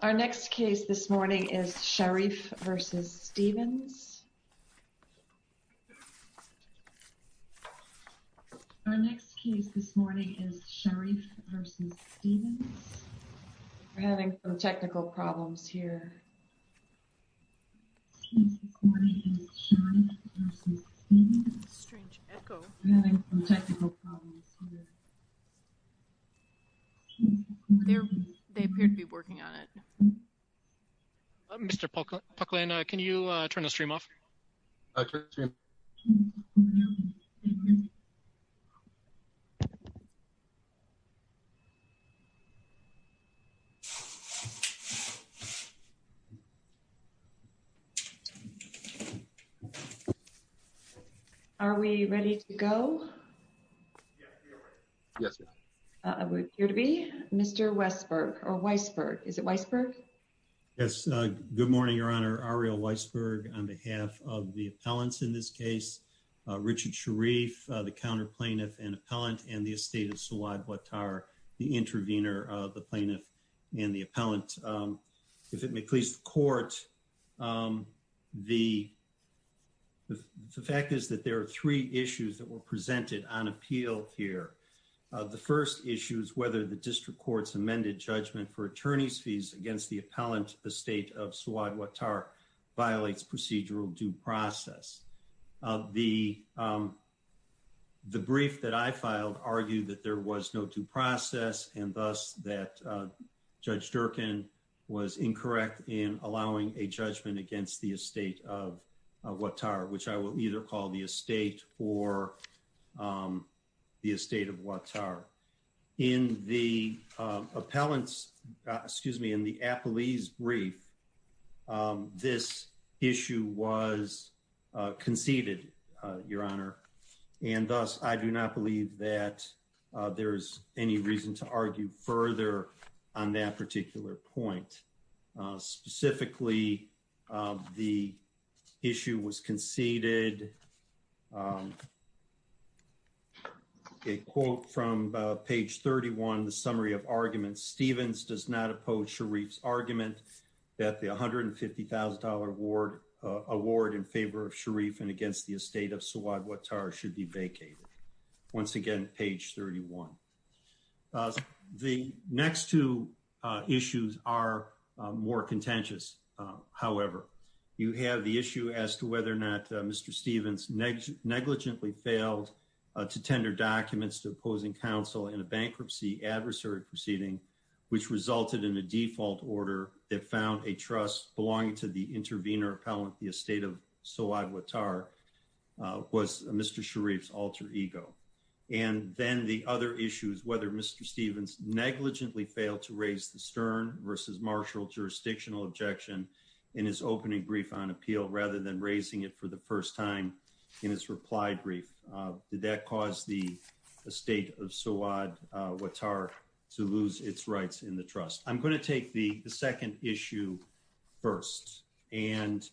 Our next case this morning is Sharif v. Stevens. We're having some technical problems here. They're, they appear to be working on it. Mr. Are we ready to go. Yes. Here to be Mr. Westberg or Weisberg is it Weisberg. Yes. Good morning, Your Honor, our real Weisberg, on behalf of the talents in this case, Richard Sharif, the counter plaintiff and appellant and the estate of slide what are the intervener, the plaintiff, and the appellant. The first is, if it may please the court. The. The fact is that there are three issues that were presented on appeal here. The first issue is whether the district courts amended judgment for attorneys fees against the appellant, the state of slide what are violates procedural due process of the. The brief that I filed argue that there was no due process, and thus, that judge Durkin was incorrect in allowing a judgment against the estate of what tower which I will either call the estate, or the estate of what's our in the appellants. Excuse me in the appellees brief. This issue was conceded, Your Honor, and thus, I do not believe that there's any reason to argue further on that particular point, specifically, the issue was conceded. A quote from page 31 the summary of arguments Stevens does not oppose Sharif's argument that the $150,000 award award in favor of Sharif and against the estate of slide what are should be vacated. Once again, page 31. The next two issues are more contentious. However, you have the issue as to whether or not Mr Stevens negligently failed to tender documents to opposing counsel in a bankruptcy adversary proceeding, which resulted in a default order that found a trust belonging to the intervener appellant the estate of. So I would tar was Mr Sharif alter ego. And then the other issues whether Mr Stevens negligently failed to raise the stern versus martial jurisdictional objection in his opening brief on appeal rather than raising it for the first time in his replied brief. I'm going to take the second issue. First, and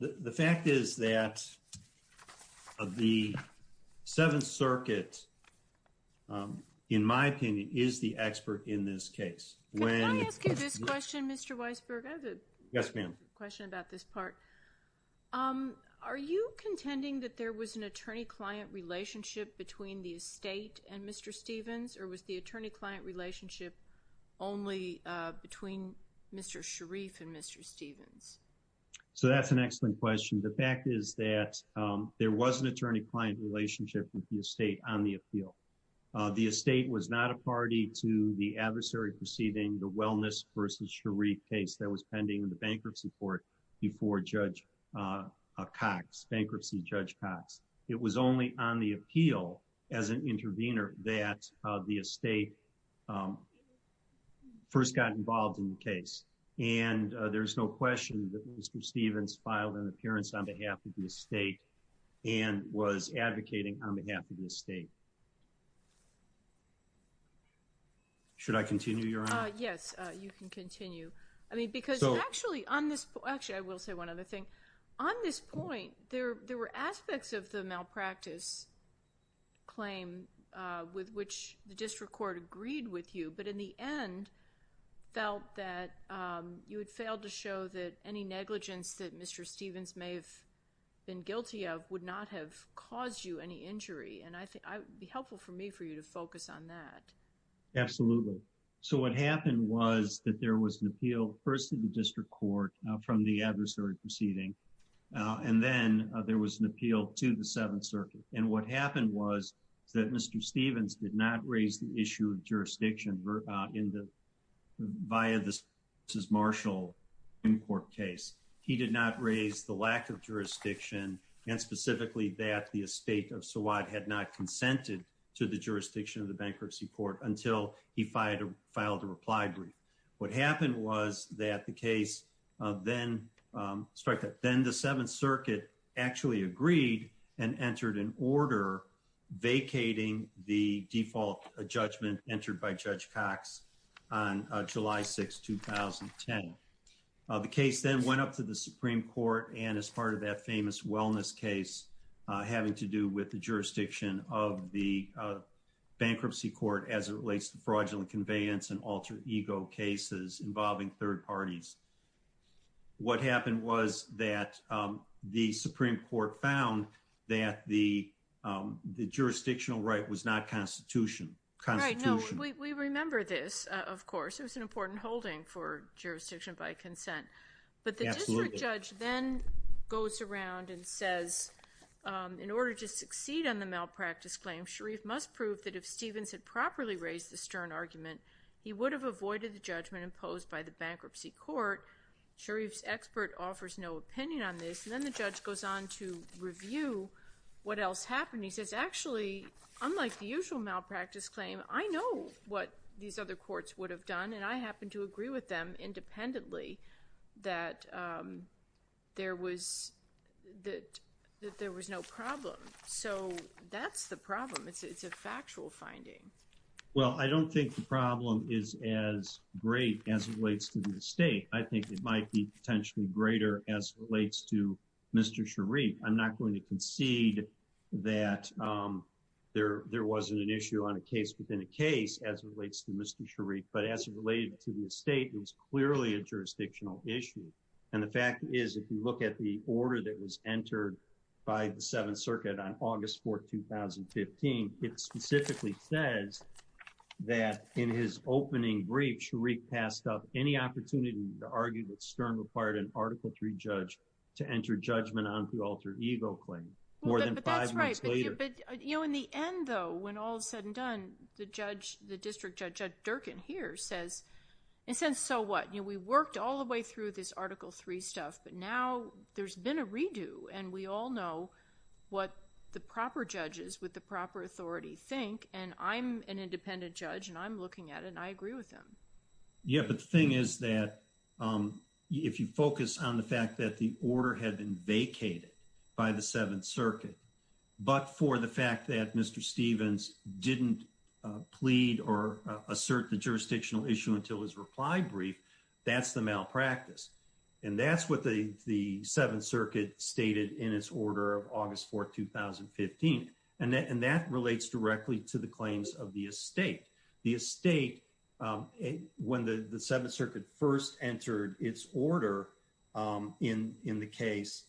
the fact is that the Seventh Circuit, in my opinion, is the expert in this case, when I ask you this question, Mr Weisberg. Yes, ma'am. Question about this part. Um, are you contending that there was an attorney client relationship between the estate and Mr Stevens or was the attorney client relationship only between Mr Sharif and Mr Stevens. So that's an excellent question. The fact is that there was an attorney client relationship with the estate on the appeal. The estate was not a party to the adversary proceeding the wellness versus Sharif case that was pending in the bankruptcy court before Judge Cox bankruptcy Judge Cox, it was only on the appeal as an intervener that the estate. First got involved in the case. And there's no question that Mr Stevens filed an appearance on behalf of the state and was advocating on behalf of the state. Should I continue your yes, you can continue. I mean, because actually on this actually I will say one other thing. On this point, there were aspects of the malpractice claim, with which the district court agreed with you but in the end, felt that you had failed to show that any negligence that Mr Stevens may have been guilty of would not have caused you any injury and I think I would be helpful for me for you to focus on that. Absolutely. So what happened was that there was an appeal person district court from the adversary proceeding. And then there was an appeal to the Seventh Circuit, and what happened was that Mr Stevens did not raise the issue of jurisdiction in the via this is Marshall import case. He did not raise the lack of jurisdiction, and specifically that the estate of so what had not consented to the jurisdiction of the bankruptcy court until he fired or filed a reply brief. What happened was that the case, then start that then the Seventh Circuit actually agreed and entered an order vacating the default judgment entered by Judge Cox on July 6 2010. The case then went up to the Supreme Court and as part of that famous wellness case, having to do with the jurisdiction of the bankruptcy court as it relates to fraudulent conveyance and alter ego cases involving third parties. What happened was that the Supreme Court found that the jurisdictional right was not constitution constitution. We remember this. Of course, it was an important holding for jurisdiction by consent. But the judge then goes around and says in order to succeed on the malpractice claim, Sharif must prove that if Stevens had properly raised the stern argument, he would have avoided the judgment imposed by the bankruptcy court. Sharif expert offers no opinion on this, and then the judge goes on to review what else happened. And he says, actually, unlike the usual malpractice claim, I know what these other courts would have done, and I happen to agree with them independently that there was that there was no problem. So that's the problem. It's a factual finding. Well, I don't think the problem is as great as relates to the state. I think it might be potentially greater as relates to Mr Sharif. I'm not going to concede that there wasn't an issue on a case within a case as relates to Mr Sharif. But as it related to the state, it was clearly a jurisdictional issue. And the fact is, if you look at the order that was entered by the Seventh Circuit on August 4th, 2015, it specifically says that in his opening brief, Sharif passed up any opportunity to argue that stern required an article three judge to enter judgment on the alter ego claim. But, you know, in the end, though, when all is said and done, the judge, the district judge Durkin here says, and since so what we worked all the way through this article three stuff, but now there's been a redo and we all know what the proper judges with the proper authority think. And I'm an independent judge and I'm looking at it and I agree with them. Yeah, but the thing is that if you focus on the fact that the order had been vacated by the Seventh Circuit, but for the fact that Mr Stevens didn't plead or assert the jurisdictional issue until his reply brief, that's the malpractice. And that's what the Seventh Circuit stated in its order of August 4th, 2015. And that relates directly to the claims of the estate. The estate, when the Seventh Circuit first entered its order in the case,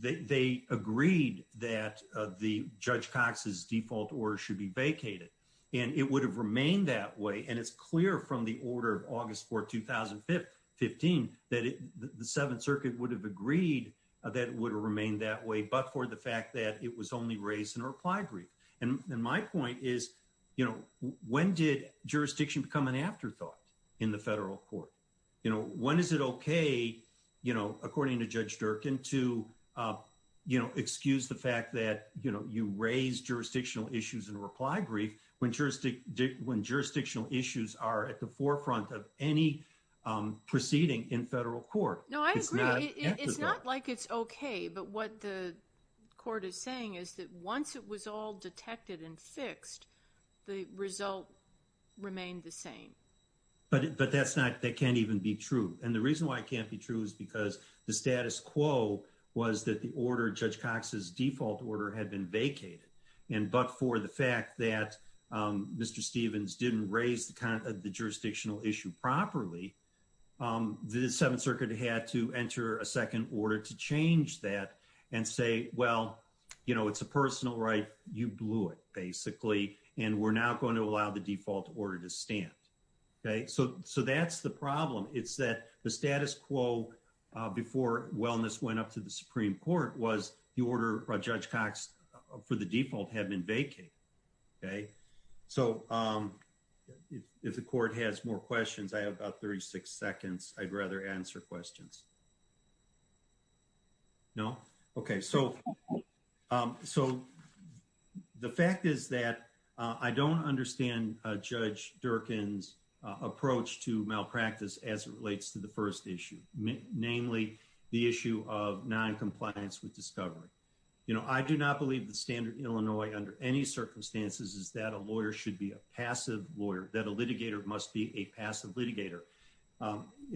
they agreed that the Judge Cox's default order should be vacated. And it would have remained that way. And it's clear from the order of August 4th, 2015, that the Seventh Circuit would have agreed that it would remain that way, but for the fact that it was only raised in a reply brief. And my point is, you know, when did jurisdiction become an afterthought in the federal court? You know, when is it okay, you know, according to Judge Durkin to, you know, excuse the fact that, you know, you raise jurisdictional issues and reply brief when jurisdictional issues are at the forefront of any proceeding in federal court. No, I agree. It's not like it's okay. But what the court is saying is that once it was all detected and fixed, the result remained the same. But that's not, that can't even be true. And the reason why it can't be true is because the status quo was that the order, Judge Cox's default order, had been vacated. And but for the fact that Mr. Stevens didn't raise the jurisdictional issue properly, the Seventh Circuit had to enter a second order to change that and say, well, you know, it's a personal right. You blew it, basically. And we're not going to allow the default order to stand. Okay, so that's the problem. It's that the status quo before wellness went up to the Supreme Court was the order by Judge Cox for the default had been vacated. Okay, so if the court has more questions, I have about 36 seconds. I'd rather answer questions. No. Okay, so, so the fact is that I don't understand Judge Durkin's approach to malpractice as it relates to the first issue, namely, the issue of non-compliance with discovery. You know, I do not believe the standard Illinois under any circumstances is that a lawyer should be a passive lawyer, that a litigator must be a passive litigator.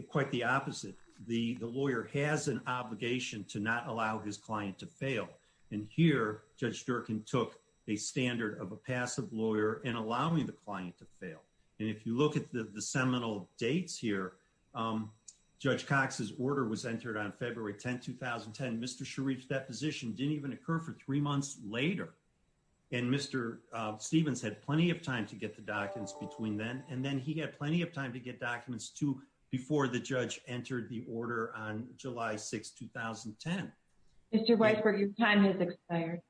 Quite the opposite. The lawyer has an obligation to not allow his client to fail. And here, Judge Durkin took a standard of a passive lawyer and allowing the client to fail. And if you look at the seminal dates here, Judge Cox's order was entered on February 10, 2010. Mr. Shareef's deposition didn't even occur for three months later. And Mr. Stephens had plenty of time to get the documents between then and then he had plenty of time to get documents to before the judge entered the order on July 6, 2010. Mr. Weisberg, your time has expired.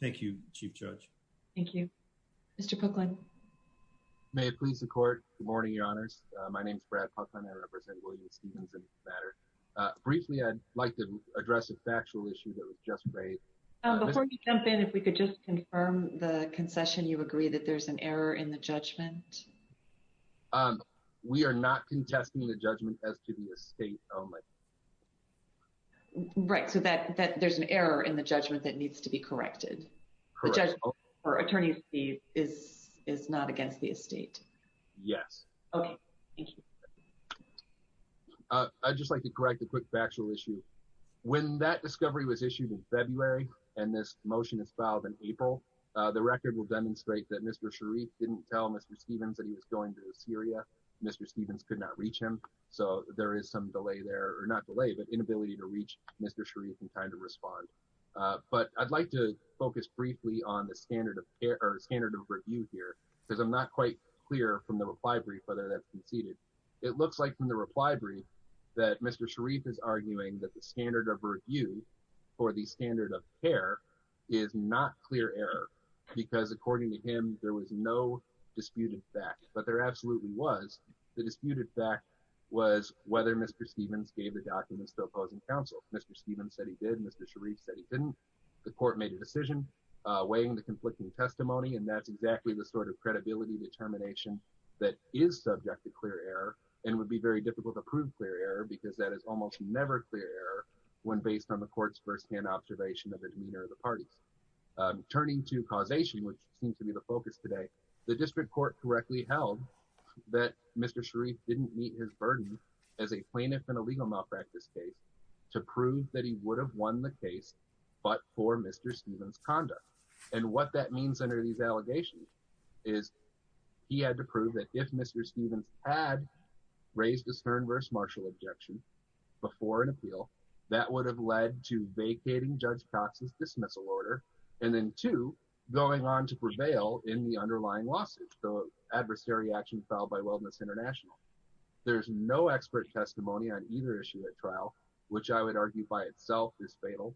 Thank you, Chief Judge. Thank you. Mr. Pookland. May it please the court. Good morning, Your Honors. My name is Brad Pookland. I represent William Stephens in this matter. Briefly, I'd like to address a factual issue that was just raised. Before you jump in, if we could just confirm the concession, you agree that there's an error in the judgment? We are not contesting the judgment as to the estate only. Right. So there's an error in the judgment that needs to be corrected. Correct. The judgment for attorney's fees is not against the estate. Okay. Thank you. I'd just like to correct a quick factual issue. When that discovery was issued in February and this motion is filed in April, the record will demonstrate that Mr. Shareef didn't tell Mr. Stephens that he was going to Syria. Mr. Stephens could not reach him. So there is some delay there, or not delay, but inability to reach Mr. Shareef in time to respond. But I'd like to focus briefly on the standard of care or standard of review here, because I'm not quite clear from the reply brief whether that's conceded. It looks like from the reply brief that Mr. Shareef is arguing that the standard of review for the standard of care is not clear error, because according to him, there was no disputed fact. But there absolutely was. The disputed fact was whether Mr. Stephens gave the documents to opposing counsel. Mr. Stephens said he did. Mr. Shareef said he didn't. The court made a decision weighing the conflicting testimony. And that's exactly the sort of credibility determination that is subject to clear error and would be very difficult to prove clear error, because that is almost never clear error when based on the court's firsthand observation of the demeanor of the parties. Turning to causation, which seems to be the focus today, the district court correctly held that Mr. Shareef didn't meet his burden as a plaintiff in a legal malpractice case to prove that he would have won the case, but for Mr. Stephens' conduct. And what that means under these allegations is he had to prove that if Mr. Stephens had raised a Stern v. Marshall objection before an appeal, that would have led to vacating Judge Cox's dismissal order, and then two, going on to prevail in the underlying lawsuit, the adversary action filed by Wellness International. There's no expert testimony on either issue at trial, which I would argue by itself is fatal.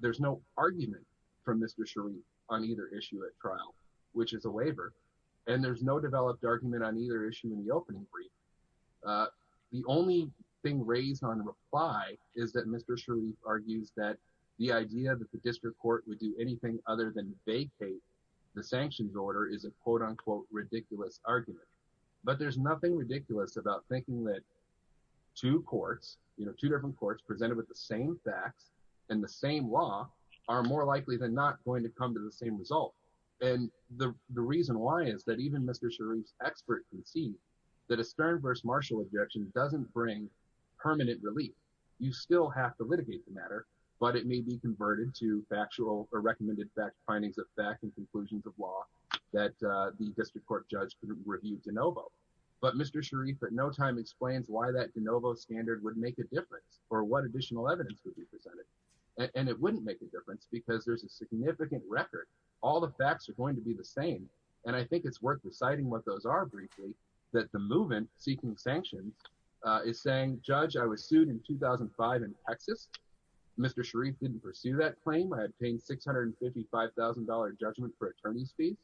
There's no argument from Mr. Shareef on either issue at trial, which is a waiver. And there's no developed argument on either issue in the opening brief. The only thing raised on the reply is that Mr. Shareef argues that the idea that the district court would do anything other than vacate the sanctions order is a quote-unquote ridiculous argument. But there's nothing ridiculous about thinking that two courts, you know, two different courts presented with the same facts and the same law are more likely than not going to come to the same result. And the reason why is that even Mr. Shareef's expert can see that a Stern v. Marshall objection doesn't bring permanent relief. You still have to litigate the matter, but it may be converted to factual or recommended findings of fact and conclusions of law that the district court judge could review de novo. But Mr. Shareef at no time explains why that de novo standard would make a difference or what additional evidence would be presented. And it wouldn't make a difference because there's a significant record. All the facts are going to be the same. And I think it's worth deciding what those are briefly, that the movement seeking sanctions is saying, Judge, I was sued in 2005 in Texas. Mr. Shareef didn't pursue that claim. I had paid $655,000 judgment for attorney's fees.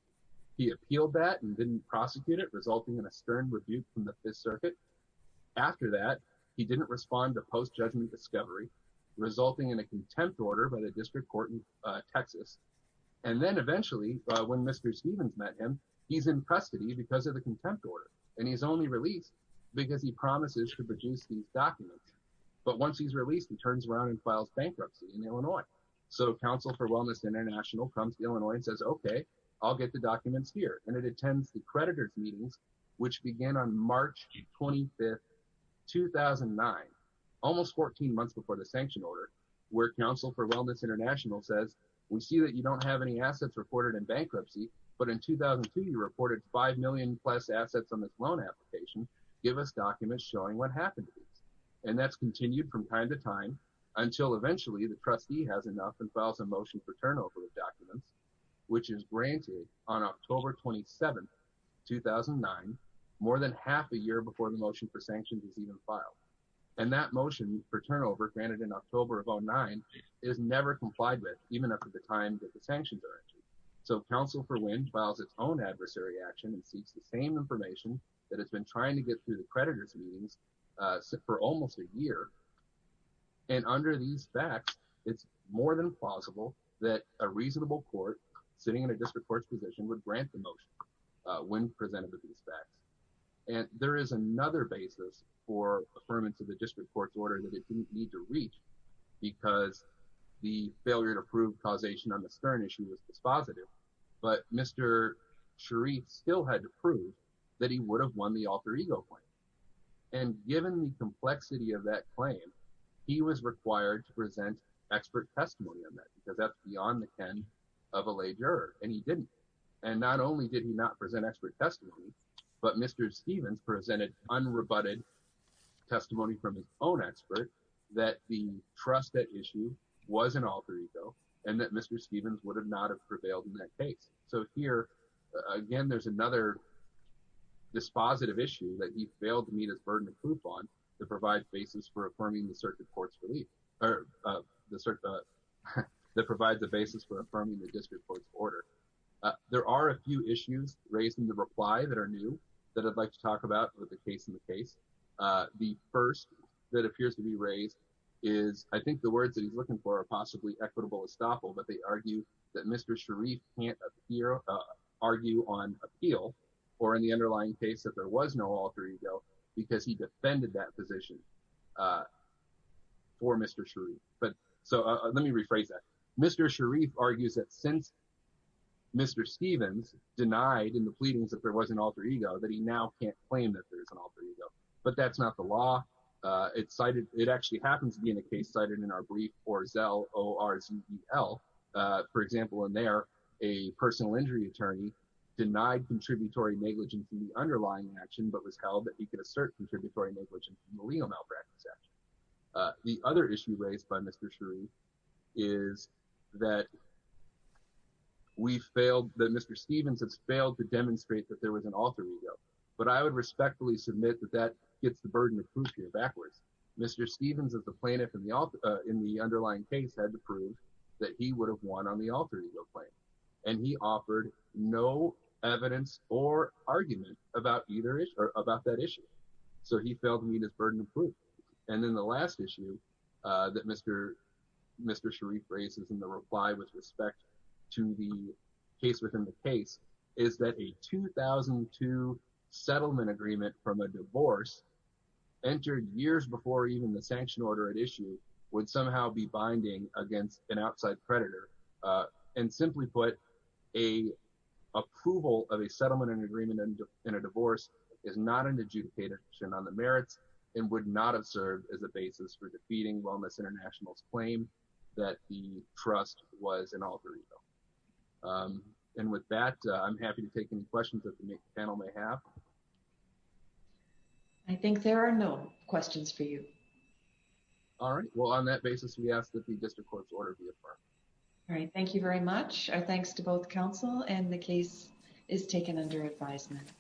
He appealed that and didn't prosecute it, resulting in a stern review from the Fifth Circuit. After that, he didn't respond to post judgment discovery, resulting in a contempt order by the district court in Texas. And then eventually, when Mr. Stevens met him, he's in custody because of the contempt order, and he's only released because he promises to produce these documents. But once he's released, he turns around and files bankruptcy in Illinois. So Council for Wellness International comes to Illinois and says, okay, I'll get the documents here. And it attends the creditors' meetings, which begin on March 25, 2009, almost 14 months before the sanction order, where Council for Wellness International says, we see that you don't have any assets reported in bankruptcy, but in 2002, you reported 5 million-plus assets on this loan application. Give us documents showing what happened to these. And that's continued from time to time until eventually the trustee has enough and files a motion for turnover of documents, which is granted on October 27, 2009, more than half a year before the motion for sanctions is even filed. And that motion for turnover, granted in October of 2009, is never complied with, even up to the time that the sanctions are issued. So Council for WIN files its own adversary action and seeks the same information that it's been trying to get through the creditors' meetings for almost a year. And under these facts, it's more than plausible that a reasonable court sitting in a district court's position would grant the motion when presented with these facts. And there is another basis for affirmance of the district court's order that it didn't need to reach because the failure to prove causation on the Stern issue was dispositive. But Mr. Sharif still had to prove that he would have won the alter ego claim. And given the complexity of that claim, he was required to present expert testimony on that because that's beyond the ken of a lay juror, and he didn't. And not only did he not present expert testimony, but Mr. Stevens presented unrebutted testimony from his own expert that the trusted issue was an alter ego and that Mr. Stevens would have not have prevailed in that case. So here, again, there's another dispositive issue that he failed to meet his burden of proof on that provides a basis for affirming the district court's order. There are a few issues raised in the reply that are new that I'd like to talk about with the case in the case. The first that appears to be raised is I think the words that he's looking for are possibly equitable estoppel, but they argue that Mr. Sharif can't argue on appeal or in the underlying case that there was no alter ego because he defended that position for Mr. Sharif. But so let me rephrase that. Mr. Sharif argues that since Mr. Stevens denied in the pleadings that there was an alter ego, that he now can't claim that there is an alter ego, but that's not the law. It cited, it actually happens to be in a case cited in our brief or Zell, O-R-Z-E-L. For example, in there, a personal injury attorney denied contributory negligence in the underlying action, but was held that he could assert contributory negligence in the legal malpractice action. The other issue raised by Mr. Sharif is that we failed, that Mr. Stevens has failed to demonstrate that there was an alter ego, but I would respectfully submit that that gets the burden of proof here backwards. Mr. Stevens as the plaintiff in the underlying case had to prove that he would have won on the alter ego claim. And he offered no evidence or argument about that issue. So he failed to meet his burden of proof. And then the last issue that Mr. Sharif raises in the reply with respect to the case within the case is that a 2002 settlement agreement from a divorce entered years before even the sanction order at issue would somehow be binding against an outside predator. And simply put, approval of a settlement and agreement in a divorce is not an adjudication on the merits and would not have served as a basis for defeating Wellness International's claim that the trust was an alter ego. And with that, I'm happy to take any questions that the panel may have. I think there are no questions for you. All right, well, on that basis, we ask that the district court's order be affirmed. All right, thank you very much. Our thanks to both counsel and the case is taken under advisement.